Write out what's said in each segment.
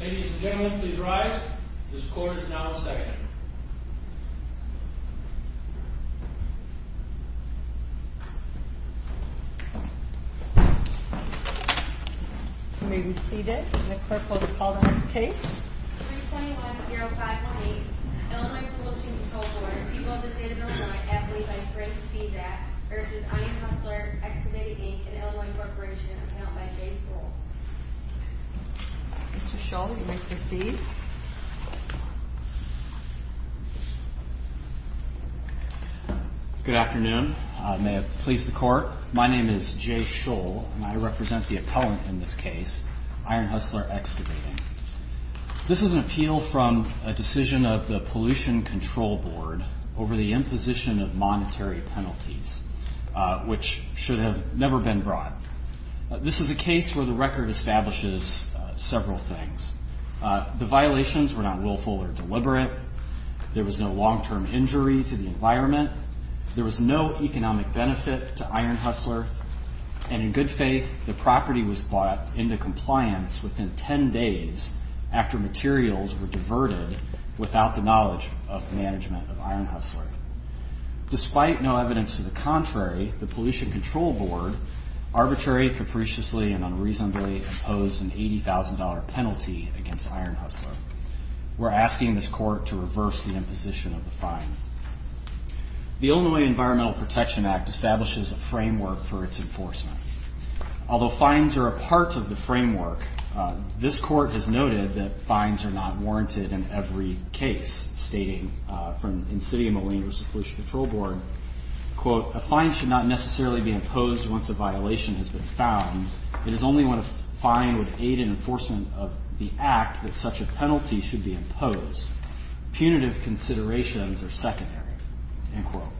Ladies and gentlemen, please rise. This court is now in session. You may be seated. The clerk will call the next case. 321-058 Illinois Appropriations Control Board, people of the state of Illinois, and I believe I've heard the feedback, versus Ironhustler Excavating, Inc. an Illinois appropriations account by Jay Scholl. Mr. Scholl, you may proceed. Good afternoon. May it please the court, my name is Jay Scholl, and I represent the appellant in this case, Ironhustler Excavating. This is an appeal from a decision of the Pollution Control Board over the imposition of monetary penalties, which should have never been brought. This is a case where the record establishes several things. The violations were not willful or deliberate. There was no long-term injury to the environment. There was no economic benefit to Ironhustler. And in good faith, the property was bought into compliance within 10 days after materials were diverted without the knowledge of management of Ironhustler. Despite no evidence to the contrary, the Pollution Control Board arbitrarily, capriciously, and unreasonably imposed an $80,000 penalty against Ironhustler. We're asking this court to reverse the imposition of the fine. The Illinois Environmental Protection Act establishes a framework for its enforcement. Although fines are a part of the framework, this court has noted that fines are not warranted in every case, stating from Insidio Moline versus Pollution Control Board, quote, a fine should not necessarily be imposed once a violation has been found. It is only when a fine would aid in enforcement of the act that such a penalty should be imposed. Punitive considerations are secondary, end quote.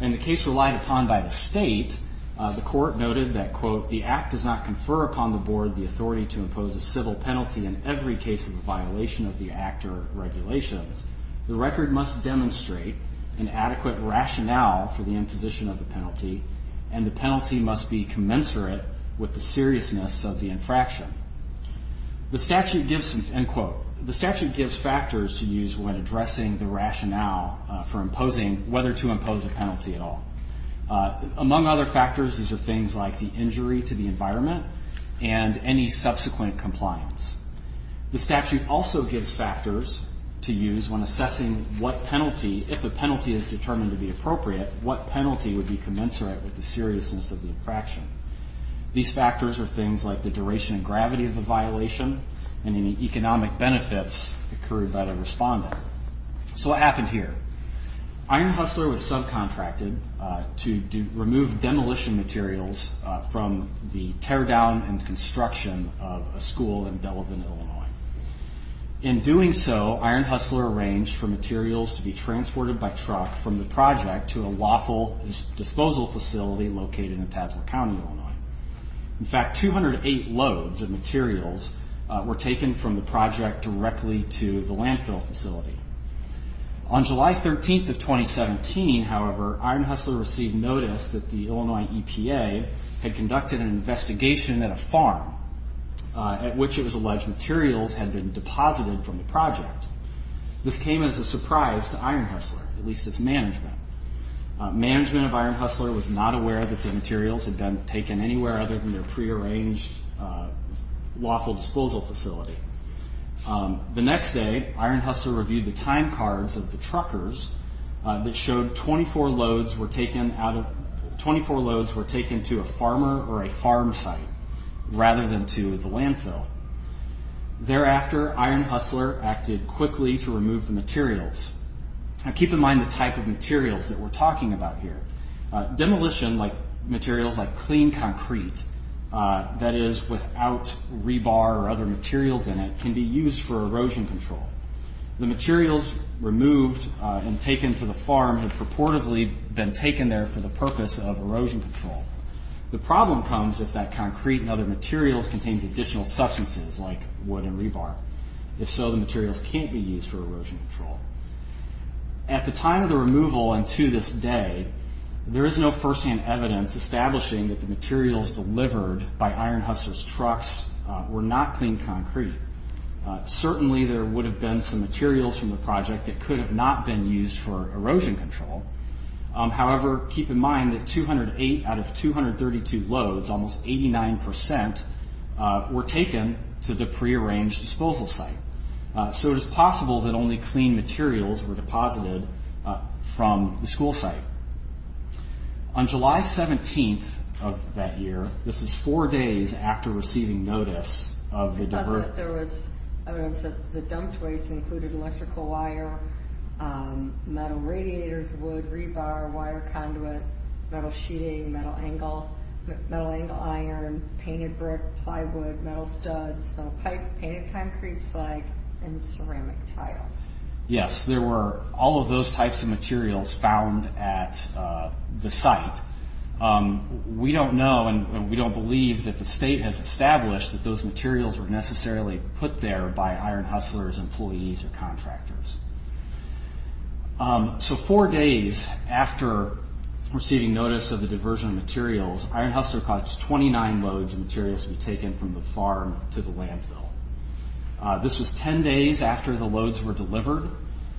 In the case relied upon by the state, the court noted that, quote, the act does not confer upon the board the authority to impose a civil penalty in every case of violation of the act or regulations. The record must demonstrate an adequate rationale for the imposition of the penalty, and the penalty must be commensurate with the seriousness of the infraction. The statute gives, end quote, the statute gives factors to use when addressing the rationale for imposing whether to impose a penalty at all. Among other factors, these are things like the injury to the environment and any subsequent compliance. The statute also gives factors to use when assessing what penalty, if a penalty is determined to be appropriate, what penalty would be commensurate with the seriousness of the infraction. These factors are things like the duration and gravity of the violation and any economic benefits occurred by the respondent. So what happened here? Iron Hustler was subcontracted to remove demolition materials from the tear down and construction of a school in Delavan, Illinois. In doing so, Iron Hustler arranged for materials to be transported by truck from the project to a lawful disposal facility located in Tadsworth County, Illinois. In fact, 208 loads of materials were taken from the project directly to the landfill facility. On July 13th of 2017, however, Iron Hustler received notice that the Illinois EPA had conducted an investigation at a farm at which it was alleged materials had been deposited from the project. This came as a surprise to Iron Hustler, at least its management. Management of Iron Hustler was not aware that the materials had been taken anywhere other than their prearranged lawful disposal facility. The next day, Iron Hustler reviewed the time cards of the truckers that showed 24 loads were taken to a farmer or a farm site rather than to the landfill. Thereafter, Iron Hustler acted quickly to remove the materials. Keep in mind the type of materials that we're talking about here. Demolition materials like clean concrete, that is without rebar or other materials in it, can be used for erosion control. The materials removed and taken to the farm have purportedly been taken there for the purpose of erosion control. The problem comes if that concrete and other materials contains additional substances like wood and rebar. If so, the materials can't be used for erosion control. At the time of the removal and to this day, there is no first-hand evidence establishing that the materials delivered by Iron Hustler's trucks were not clean concrete. Certainly, there would have been some materials from the project that could have not been used for erosion control. However, keep in mind that 208 out of 232 loads, almost 89%, were taken to the prearranged disposal site. So it is possible that only clean materials were deposited from the school site. On July 17th of that year, this is four days after receiving notice of the diversion. There was evidence that the dumped waste included electrical wire, metal radiators, wood, rebar, wire conduit, metal sheeting, metal angle iron, painted brick, plywood, metal studs, metal pipe, painted concrete slag, and ceramic tile. Yes, there were all of those types of materials found at the site. We don't know and we don't believe that the state has established that those materials were necessarily put there by Iron Hustler's employees or contractors. So four days after receiving notice of the diversion of materials, Iron Hustler caused 29 loads of materials to be taken from the farm to the landfill. This was 10 days after the loads were delivered.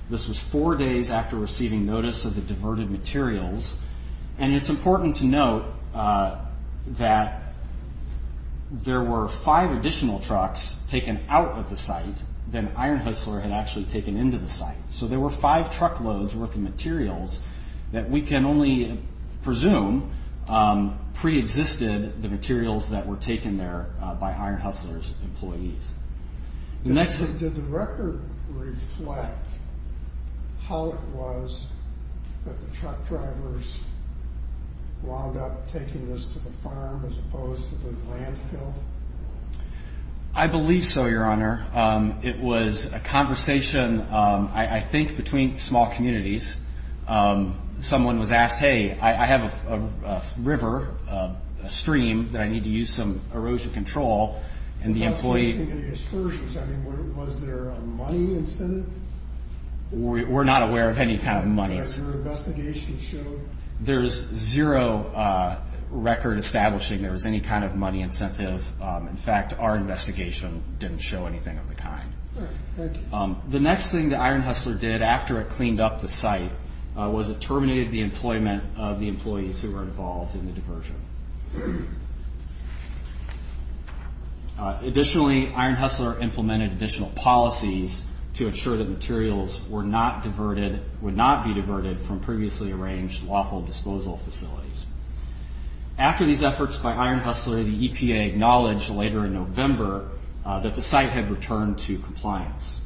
This was four days after receiving notice of the diverted materials. And it's important to note that there were five additional trucks taken out of the site than Iron Hustler had actually taken into the site. So there were five truckloads worth of materials that we can only presume preexisted the materials that were taken there by Iron Hustler's employees. Did the record reflect how it was that the truck drivers wound up taking this to the farm as opposed to the landfill? I believe so, Your Honor. It was a conversation, I think, between small communities. Someone was asked, hey, I have a river, a stream, that I need to use some erosion control. And the employee Was there a money incentive? We're not aware of any kind of money. And your investigation showed? There's zero record establishing there was any kind of money incentive. In fact, our investigation didn't show anything of the kind. All right. Thank you. The next thing that Iron Hustler did after it cleaned up the site was it terminated the employment of the employees who were involved in the diversion. Additionally, Iron Hustler implemented additional policies to ensure that materials were not diverted, would not be diverted from previously arranged lawful disposal facilities. After these efforts by Iron Hustler, the EPA acknowledged later in November that the site had returned to compliance.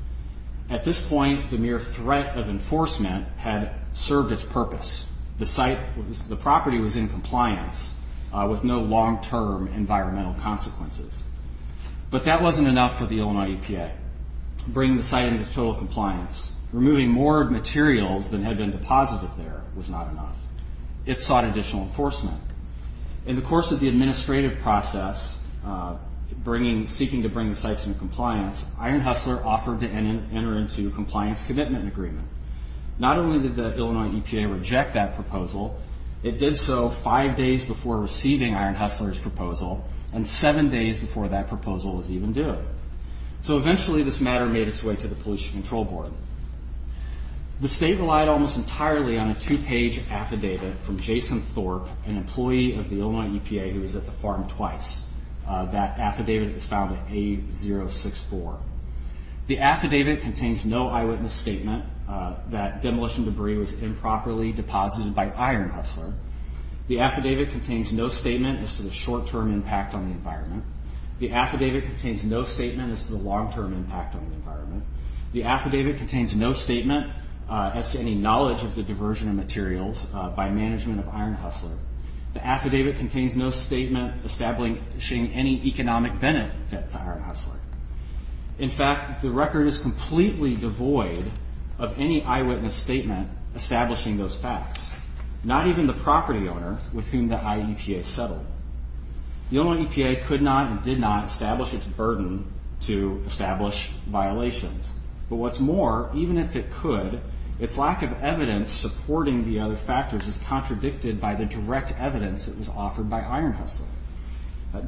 At this point, the mere threat of enforcement had served its purpose. The property was in compliance with no long-term environmental consequences. But that wasn't enough for the Illinois EPA to bring the site into total compliance. Removing more materials than had been deposited there was not enough. It sought additional enforcement. In the course of the administrative process, seeking to bring the sites into compliance, Iron Hustler offered to enter into a compliance commitment agreement. Not only did the Illinois EPA reject that proposal, it did so five days before receiving Iron Hustler's proposal and seven days before that proposal was even due. Eventually, this matter made its way to the Pollution Control Board. The state relied almost entirely on a two-page affidavit from Jason Thorpe, an employee of the Illinois EPA who was at the farm twice. That affidavit is found in A064. The affidavit contains no eyewitness statement. That demolition debris was improperly deposited by Iron Hustler. The affidavit contains no statement as to the short-term impact on the environment. The affidavit contains no statement as to the long-term impact on the environment. The affidavit contains no statement as to any knowledge of the diversion of materials by management of Iron Hustler. The affidavit contains no statement establishing any economic benefit to Iron Hustler. In fact, the record is completely devoid of any eyewitness statement establishing those facts, not even the property owner with whom the IEPA settled. The Illinois EPA could not and did not establish its burden to establish violations. But what's more, even if it could, its lack of evidence supporting the other factors is contradicted by the direct evidence that was offered by Iron Hustler.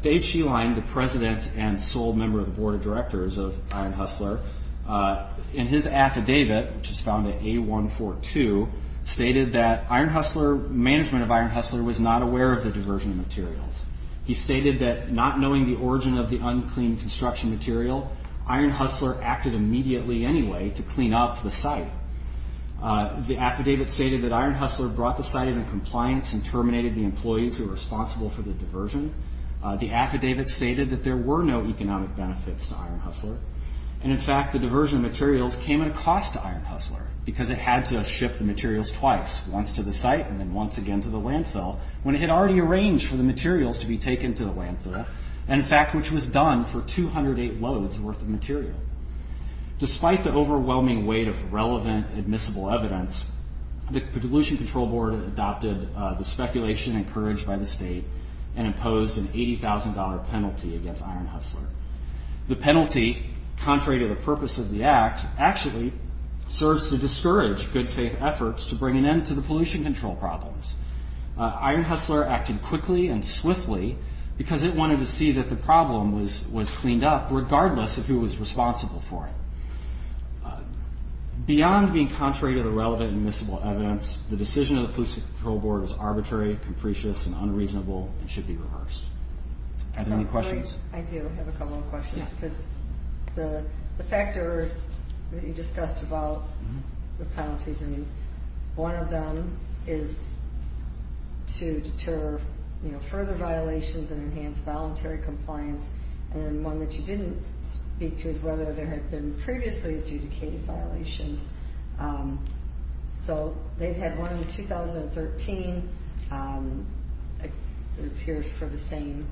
Dave Sheline, the president and sole member of the board of directors of Iron Hustler, in his affidavit, which is found in A142, stated that management of Iron Hustler was not aware of the diversion of materials. He stated that not knowing the origin of the unclean construction material, Iron Hustler acted immediately anyway to clean up the site. The affidavit stated that Iron Hustler brought the site into compliance and terminated the employees who were responsible for the diversion. The affidavit stated that there were no economic benefits to Iron Hustler. And, in fact, the diversion of materials came at a cost to Iron Hustler because it had to ship the materials twice, once to the site and then once again to the landfill, when it had already arranged for the materials to be taken to the landfill, and, in fact, which was done for 208 loads worth of material. Despite the overwhelming weight of relevant admissible evidence, the Pollution Control Board adopted the speculation encouraged by the state and imposed an $80,000 penalty against Iron Hustler. The penalty, contrary to the purpose of the act, actually serves to discourage good faith efforts to bring an end to the pollution control problems. Iron Hustler acted quickly and swiftly because it wanted to see that the problem was cleaned up, regardless of who was responsible for it. Beyond being contrary to the relevant admissible evidence, the decision of the Pollution Control Board is arbitrary, capricious, and unreasonable and should be reversed. Are there any questions? I do have a couple of questions because the factors that you discussed about the penalties, I mean, one of them is to deter further violations and enhance voluntary compliance, and one that you didn't speak to was whether there had been previously adjudicated violations. So they've had one in 2013, it appears for the same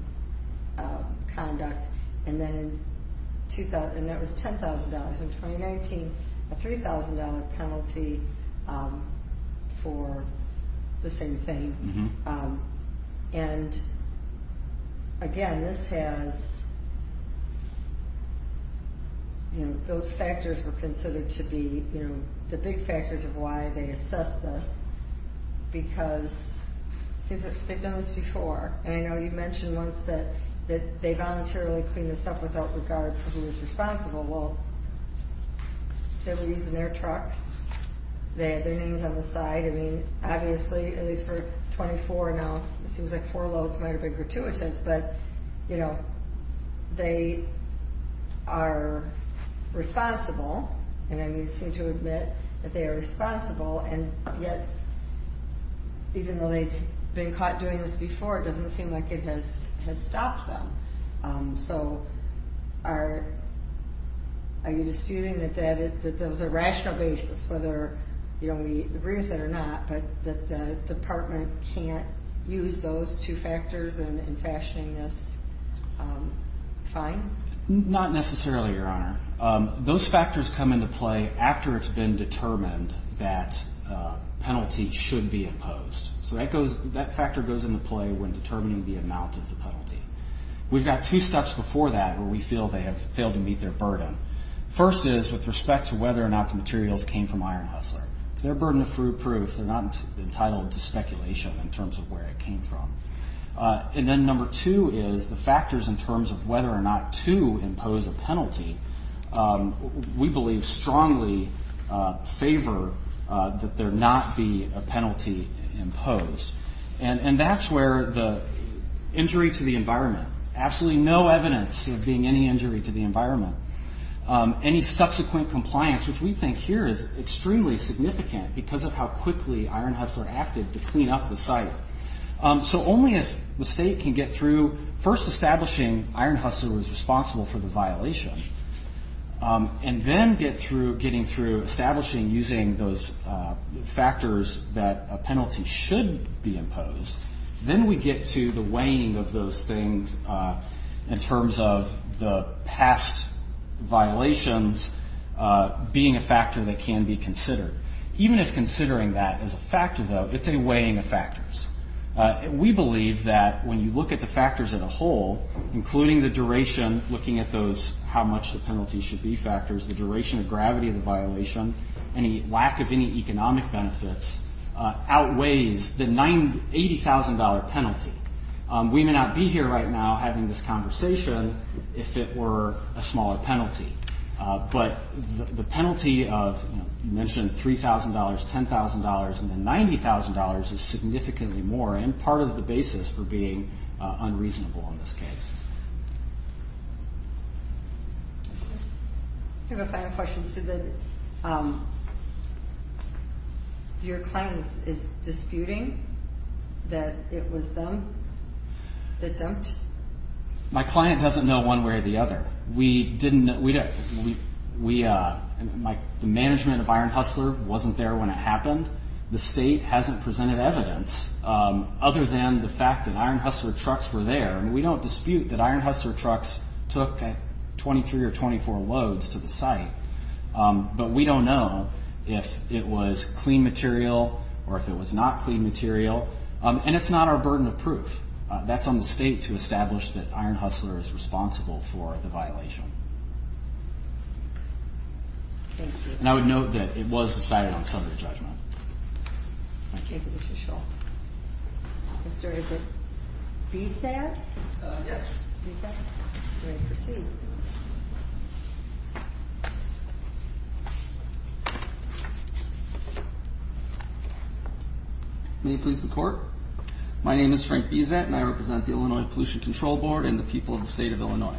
conduct, and that was $10,000. In 2019, a $3,000 penalty for the same thing. And again, this has... Those factors were considered to be the big factors of why they assessed this because it seems that they've done this before, and I know you mentioned once that they voluntarily cleaned this up without regard for who was responsible. Well, they were using their trucks. Their name was on the side. I mean, obviously, at least for 24 now, it seems like four loads might have been gratuitous, but they are responsible, and I seem to admit that they are responsible, and yet, even though they've been caught doing this before, it doesn't seem like it has stopped them. So are you disputing that that was a rational basis, whether we agree with it or not, but that the department can't use those two factors in fashioning this fine? Not necessarily, Your Honor. Those factors come into play after it's been determined that penalty should be imposed. So that factor goes into play when determining the amount of the penalty. We've got two steps before that First is with respect to whether or not the materials came from Iron Hustler. It's their burden of proof. They're not entitled to speculation in terms of where it came from. And then number two is the factors in terms of whether or not to impose a penalty. We believe strongly favor that there not be a penalty imposed, and that's where the injury to the environment, absolutely no evidence of being any injury to the environment, any subsequent compliance, which we think here is extremely significant because of how quickly Iron Hustler acted to clean up the site. So only if the state can get through first establishing Iron Hustler was responsible for the violation, and then getting through establishing using those factors that a penalty should be imposed, then we get to the weighing of those things in terms of the past violations being a factor that can be considered. Even if considering that as a factor, though, it's a weighing of factors. We believe that when you look at the factors as a whole, including the duration, looking at those how much the penalty should be factors, the duration of gravity of the violation, any lack of any economic benefits, outweighs the $80,000 penalty. We may not be here right now having this conversation if it were a smaller penalty, but the penalty of, you mentioned $3,000, $10,000, and then $90,000 is significantly more and part of the basis for being unreasonable in this case. I have a final question. Your client is disputing that it was them that dumped? My client doesn't know one way or the other. The management of Iron Hustler wasn't there when it happened. The state hasn't presented evidence other than the fact that Iron Hustler trucks were there. We don't dispute that Iron Hustler trucks took 23 or 24 loads to the site, but we don't know if it was clean material or if it was not clean material, and it's not our burden of proof. That's on the state to establish that Iron Hustler is responsible for the violation. Thank you. And I would note that it was decided on summary judgment. Okay, that is for sure. Officer, is it B's there? Yes. B's there? You may proceed. May it please the Court? My name is Frank Bizet, and I represent the Illinois Pollution Control Board and the people of the state of Illinois.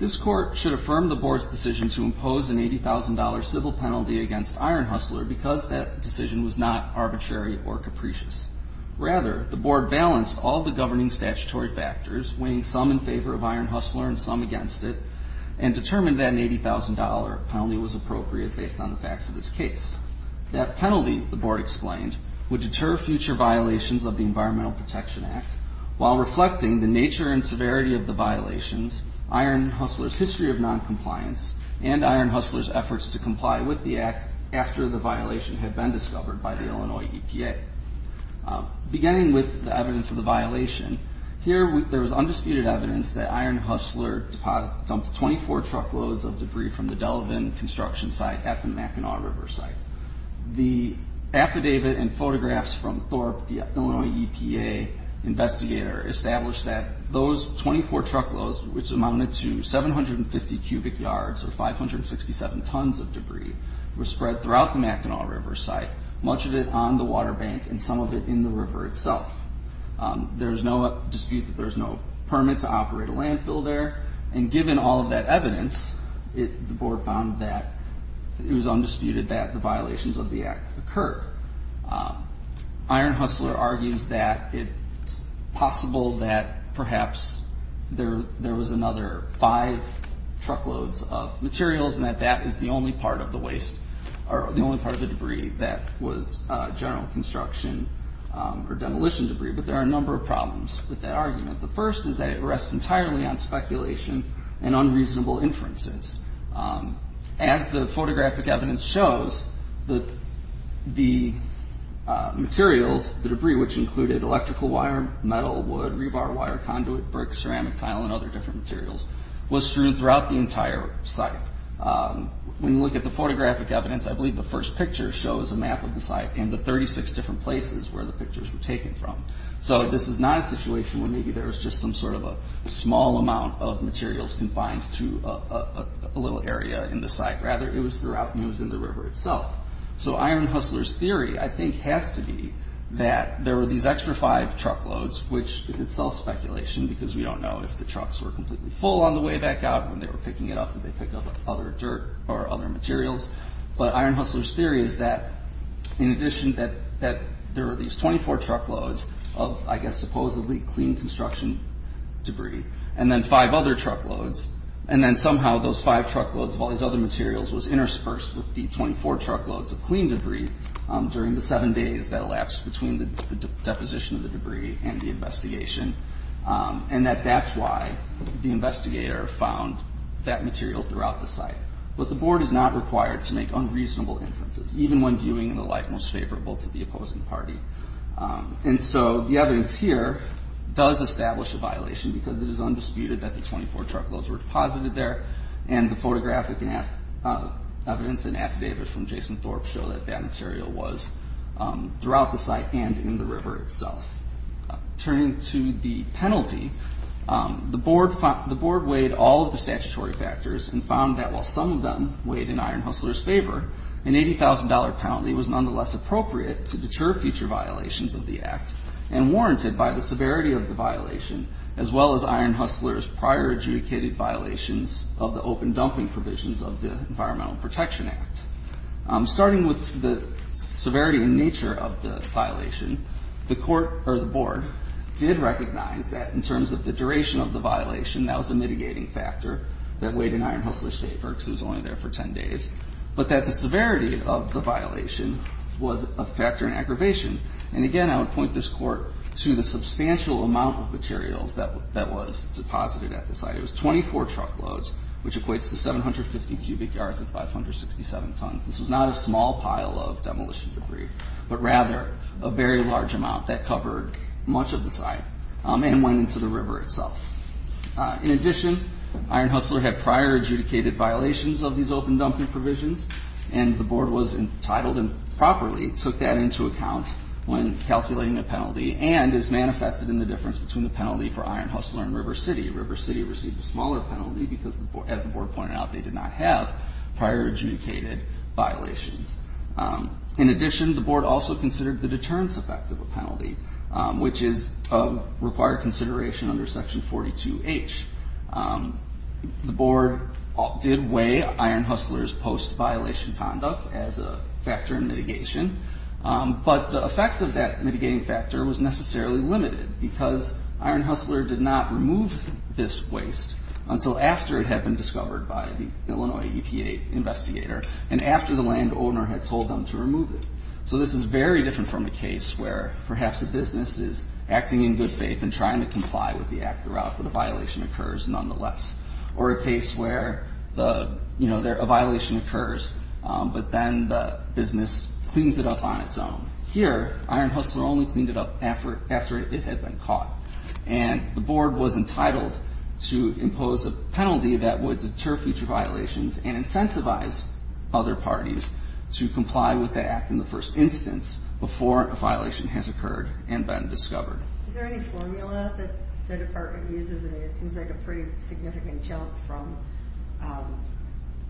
This Court should affirm the Board's decision to impose an $80,000 civil penalty against Iron Hustler because that decision was not arbitrary or capricious. Rather, the Board balanced all the governing statutory factors, weighing some in favor of Iron Hustler and some against it, and determined that an $80,000 penalty was appropriate based on the facts of this case. That penalty, the Board explained, would deter future violations of the Environmental Protection Act while reflecting the nature and severity of the violations, Iron Hustler's history of noncompliance, and Iron Hustler's efforts to comply with the act after the violation had been discovered by the Illinois EPA. Beginning with the evidence of the violation, here there is undisputed evidence that Iron Hustler dumped 24 truckloads of debris from the Delavan construction site at the Mackinac River site. The affidavit and photographs from Thorpe, the Illinois EPA investigator, established that those 24 truckloads, which amounted to 750 cubic yards or 567 tons of debris, were spread throughout the Mackinac River site, much of it on the water bank and some of it in the river itself. There's no dispute that there's no permit to operate a landfill there, and given all of that evidence, the Board found that it was undisputed that the violations of the act occurred. Iron Hustler argues that it's possible that perhaps there was another five truckloads of materials and that that is the only part of the debris that was general construction or demolition debris, but there are a number of problems with that argument. The first is that it rests entirely on speculation and unreasonable inferences. As the photographic evidence shows, the materials, the debris, which included electrical wire, metal, wood, rebar wire, conduit, brick, ceramic tile, and other different materials, was strewn throughout the entire site. When you look at the photographic evidence, I believe the first picture shows a map of the site and the 36 different places where the pictures were taken from. This is not a situation where maybe there was just some sort of a small amount of materials confined to a little area in the site. Rather, it was throughout and it was in the river itself. Iron Hustler's theory, I think, has to be that there were these extra five truckloads, which is itself speculation because we don't know if the trucks were completely full on the way back out when they were picking it up, did they pick up other dirt or other materials? But Iron Hustler's theory is that in addition that there were these 24 truckloads of, I guess, supposedly clean construction debris and then five other truckloads and then somehow those five truckloads of all these other materials was interspersed with the 24 truckloads of clean debris during the seven days that elapsed between the deposition of the debris and the investigation and that that's why the investigator found that material throughout the site. But the board is not required to make unreasonable inferences even when viewing in the light most favorable to the opposing party. And so the evidence here does establish a violation because it is undisputed that the 24 truckloads were deposited there and the photographic evidence and affidavits from Jason Thorpe show that that material was throughout the site and in the river itself. Turning to the penalty, the board weighed all of the statutory factors and found that while some of them weighed in Iron Hustler's favor, an $80,000 penalty was nonetheless appropriate to deter future violations of the Act and warranted by the severity of the violation as well as Iron Hustler's prior adjudicated violations of the open dumping provisions of the Environmental Protection Act. Starting with the severity and nature of the violation, the board did recognize that in terms of the duration of the violation, that was a mitigating factor that weighed in Iron Hustler's favor because it was only there for 10 days, but that the severity of the violation was a factor in aggravation. And again, I would point this Court to the substantial amount of materials that was deposited at the site. It was 24 truckloads, which equates to 750 cubic yards and 567 tons. This was not a small pile of demolition debris, but rather a very large amount that covered much of the site and went into the river itself. In addition, Iron Hustler had prior adjudicated violations of these open dumping provisions, and the board was entitled and properly took that into account when calculating the penalty and as manifested in the difference between the penalty for Iron Hustler and River City. River City received a smaller penalty because, as the board pointed out, they did not have prior adjudicated violations. In addition, the board also considered the deterrence effect of a penalty, which is a required consideration under Section 42H. The board did weigh Iron Hustler's post-violation conduct as a factor in mitigation, but the effect of that mitigating factor was necessarily limited because Iron Hustler did not remove this waste until after it had been discovered by the Illinois EPA investigator and after the landowner had told them to remove it. So this is very different from a case where perhaps the business is acting in good faith and trying to comply with the act but a violation occurs nonetheless, or a case where a violation occurs but then the business cleans it up on its own. Here, Iron Hustler only cleaned it up after it had been caught, and the board was entitled to impose a penalty that would deter future violations and incentivize other parties to comply with the act in the first instance before a violation has occurred and been discovered. Is there any formula that the department uses? It seems like a pretty significant jump from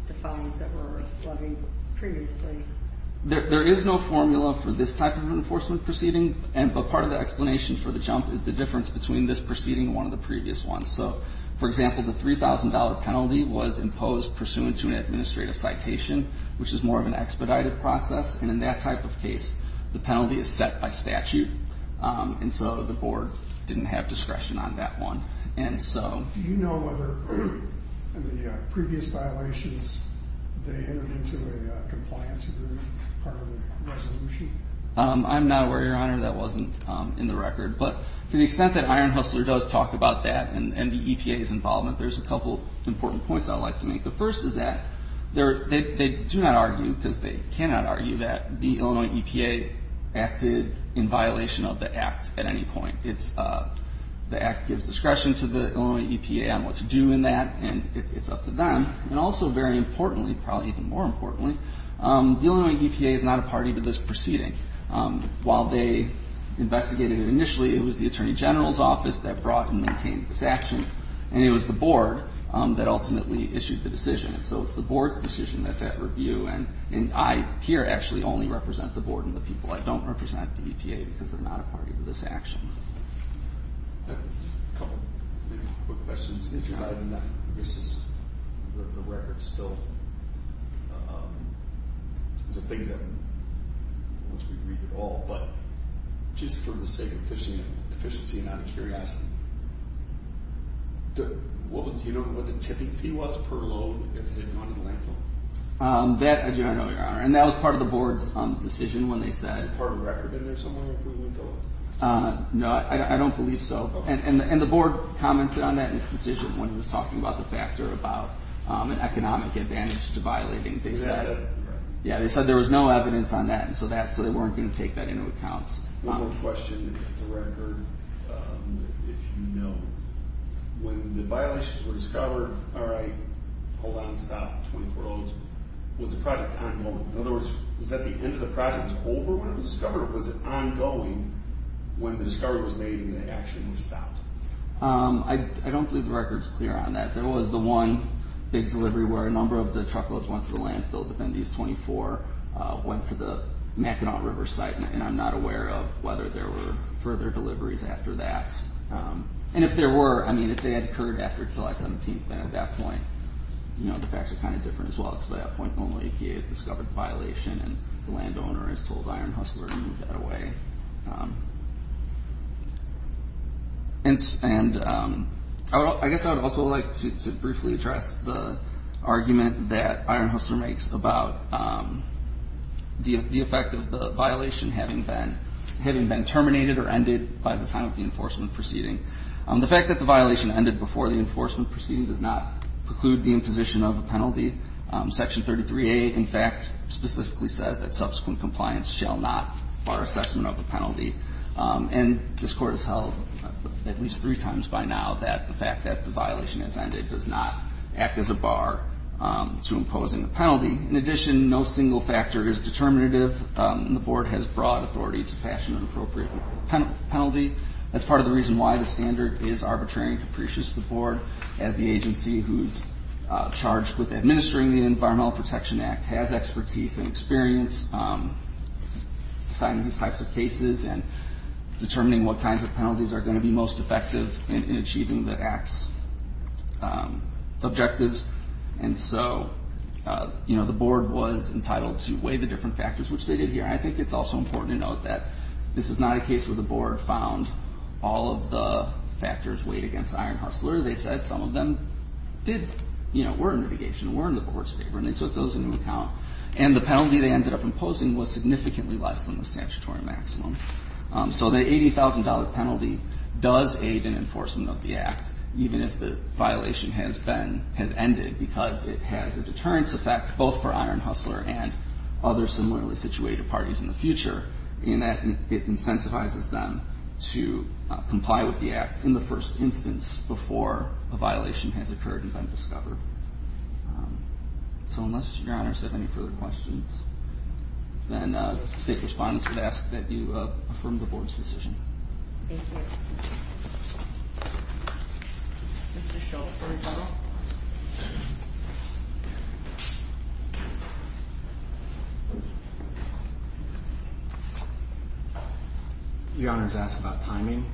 the fines that were flooding previously. There is no formula for this type of enforcement proceeding, but part of the explanation for the jump is the difference between this proceeding and one of the previous ones. For example, the $3,000 penalty was imposed pursuant to an administrative citation, which is more of an expedited process, and in that type of case, the penalty is set by statute, and so the board didn't have discretion on that one. Do you know whether in the previous violations they entered into a compliance agreement as part of the resolution? I'm not aware, Your Honor. That wasn't in the record. But to the extent that Iron Hustler does talk about that and the EPA's involvement, there's a couple important points I'd like to make. The first is that they do not argue, because they cannot argue, that the Illinois EPA acted in violation of the act at any point. The act gives discretion to the Illinois EPA on what to do in that, and it's up to them. And also very importantly, probably even more importantly, the Illinois EPA is not a party to this proceeding. While they investigated it initially, it was the Attorney General's Office that brought and maintained this action, and it was the board that ultimately issued the decision. So it's the board's decision that's at review, and I here actually only represent the board and the people. I don't represent the EPA because they're not a party to this action. A couple of quick questions. This is the record still. The things that once we read it all, but just for the sake of efficiency and out of curiosity, do you know what the tipping fee was per load if it had gone in the landfill? That I do not know, Your Honor. And that was part of the board's decision when they said... Is it part of the record in there somewhere if we went to look? No, I don't believe so. And the board commented on that in its decision when it was talking about the factor, about an economic advantage to violating. Yeah, they said there was no evidence on that, so they weren't going to take that into account. One more question to get the record, if you know. When the violations were discovered, all right, hold on, stop, 24 hours, was the project ongoing? In other words, was that the end of the project? Was it over when it was discovered, or was it ongoing when the discovery was made and the action was stopped? I don't believe the record's clear on that. There was the one big delivery where a number of the truckloads went to the landfill, but then these 24 went to the Mackinac River site, and I'm not aware of whether there were further deliveries after that. And if there were, I mean, if they had occurred after July 17th, then at that point, you know, the facts are kind of different as well. It's by that point when the EPA has discovered violation and the landowner has told Iron Hustler to move that away. And I guess I would also like to briefly address the argument that Iron Hustler makes about the effect of the violation having been terminated or ended by the time of the enforcement proceeding. The fact that the violation ended before the enforcement proceeding does not preclude the imposition of a penalty. Section 33A, in fact, specifically says that subsequent compliance shall not bar assessment of the penalty. And this Court has held at least three times by now that the fact that the violation has ended does not act as a bar to imposing the penalty. In addition, no single factor is determinative, and the Board has broad authority to fashion an appropriate penalty. That's part of the reason why the standard is arbitrary and capricious to the Board as the agency who's charged with administering the Environmental Protection Act has expertise and experience in these types of cases and determining what kinds of penalties are going to be most effective in achieving the Act's objectives. And so, you know, the Board was entitled to weigh the different factors, which they did here. I think it's also important to note that this is not a case where the Board found all of the factors weighed against Iron Hustler. They said some of them did, you know, were in litigation, were in the Board's favor, and they took those into account. And the penalty they ended up imposing was significantly less than the statutory maximum. So the $80,000 penalty does aid in enforcement of the Act, even if the violation has been, has ended, because it has a deterrence effect, both for Iron Hustler and other similarly situated parties in the future, in that it incentivizes them to comply with the Act in the first instance before a violation has occurred and been discovered. So unless Your Honors have any further questions, then the State Respondents would ask that you affirm the Board's decision. Thank you. Mr. Schultz for rebuttal. Your Honors ask about timing.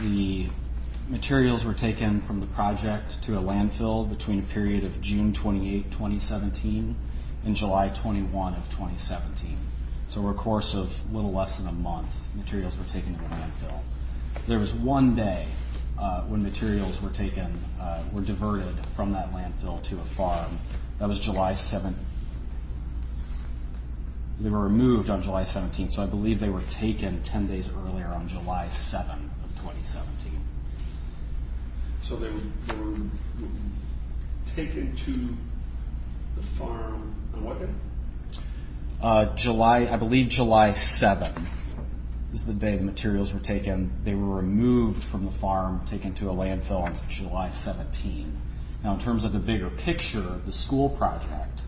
The materials were taken from the project to a landfill between a period of June 28, 2017 and July 21 of 2017. So over a course of a little less than a month, materials were taken to the landfill. There was one day when materials were taken, were diverted from that landfill to a farm. That was July 7. They were removed on July 17, so I believe they were taken 10 days earlier on July 7 of 2017. So they were taken to the farm on what day? I believe July 7 is the day the materials were taken. They were removed from the farm, taken to a landfill on July 17. Now in terms of the bigger picture, the school project,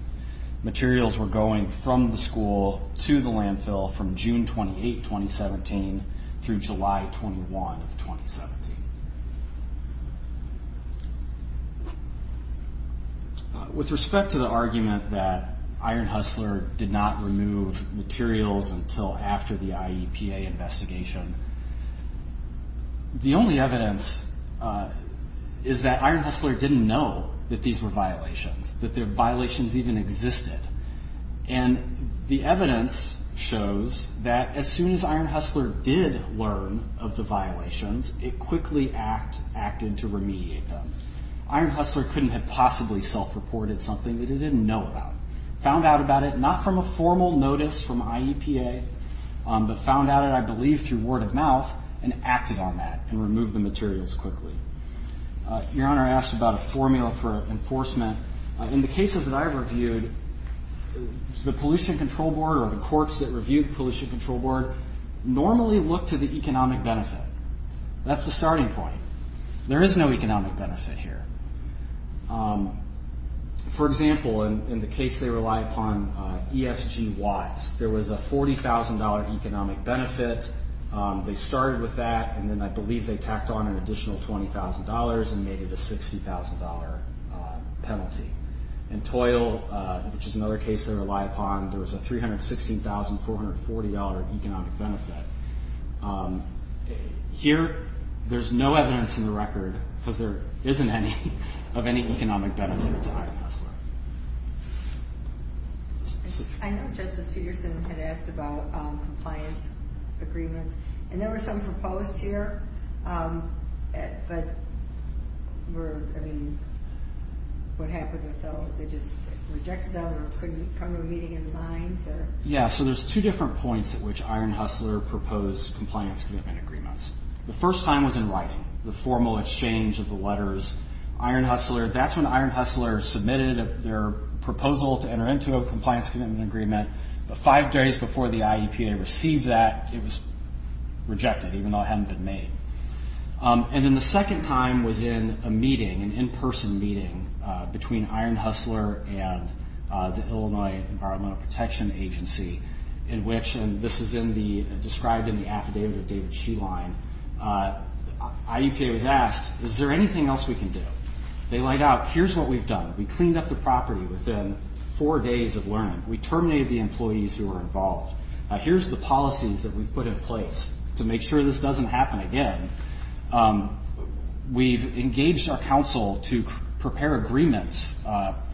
materials were going from the school to the landfill from June 28, 2017 through July 21 of 2017. With respect to the argument that Iron Hustler did not remove materials until after the IEPA investigation, the only evidence is that Iron Hustler didn't know that these were violations, that the violations even existed. And the evidence shows that as soon as Iron Hustler did learn of the violations, it quickly acted to remediate them. Iron Hustler couldn't have possibly self-reported something that he didn't know about. He found out about it not from a formal notice from IEPA, but found out, I believe, through word of mouth, and acted on that and removed the materials quickly. Your Honor, I asked about a formula for enforcement. In the cases that I've reviewed, the pollution control board or the courts that review the pollution control board normally look to the economic benefit. That's the starting point. There is no economic benefit here. For example, in the case they rely upon, ESG Watts, there was a $40,000 economic benefit. They started with that, and then I believe they tacked on an additional $20,000 and made it a $60,000 penalty. In TOIL, which is another case they rely upon, there was a $316,440 economic benefit. Here, there's no evidence in the record, because there isn't any, of any economic benefit to Iron Hustler. I know Justice Peterson had asked about compliance agreements, and there were some proposed here, but were, I mean, what happened with those? They just rejected them or couldn't come to a meeting in line? Yeah, so there's two different points at which Iron Hustler proposed compliance commitment agreements. The first time was in writing, the formal exchange of the letters. Iron Hustler, that's when Iron Hustler submitted their proposal to enter into a compliance commitment agreement, but five days before the IEPA received that, it was rejected, even though it hadn't been made. And then the second time was in a meeting, an in-person meeting, between Iron Hustler and the Illinois Environmental Protection Agency, in which, and this is described in the affidavit of David Sheline, IEPA was asked, is there anything else we can do? They laid out, here's what we've done. We cleaned up the property within four days of learning. We terminated the employees who were involved. Here's the policies that we've put in place to make sure this doesn't happen again. We've engaged our counsel to prepare agreements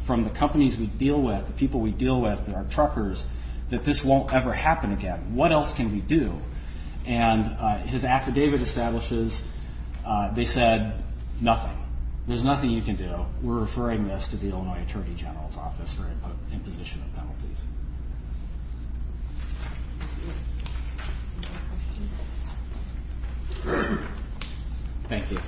from the companies we deal with, the people we deal with, our truckers, that this won't ever happen again. What else can we do? And his affidavit establishes they said nothing. There's nothing you can do. So we're referring this to the Illinois Attorney General's Office for imposition of penalties. Thank you.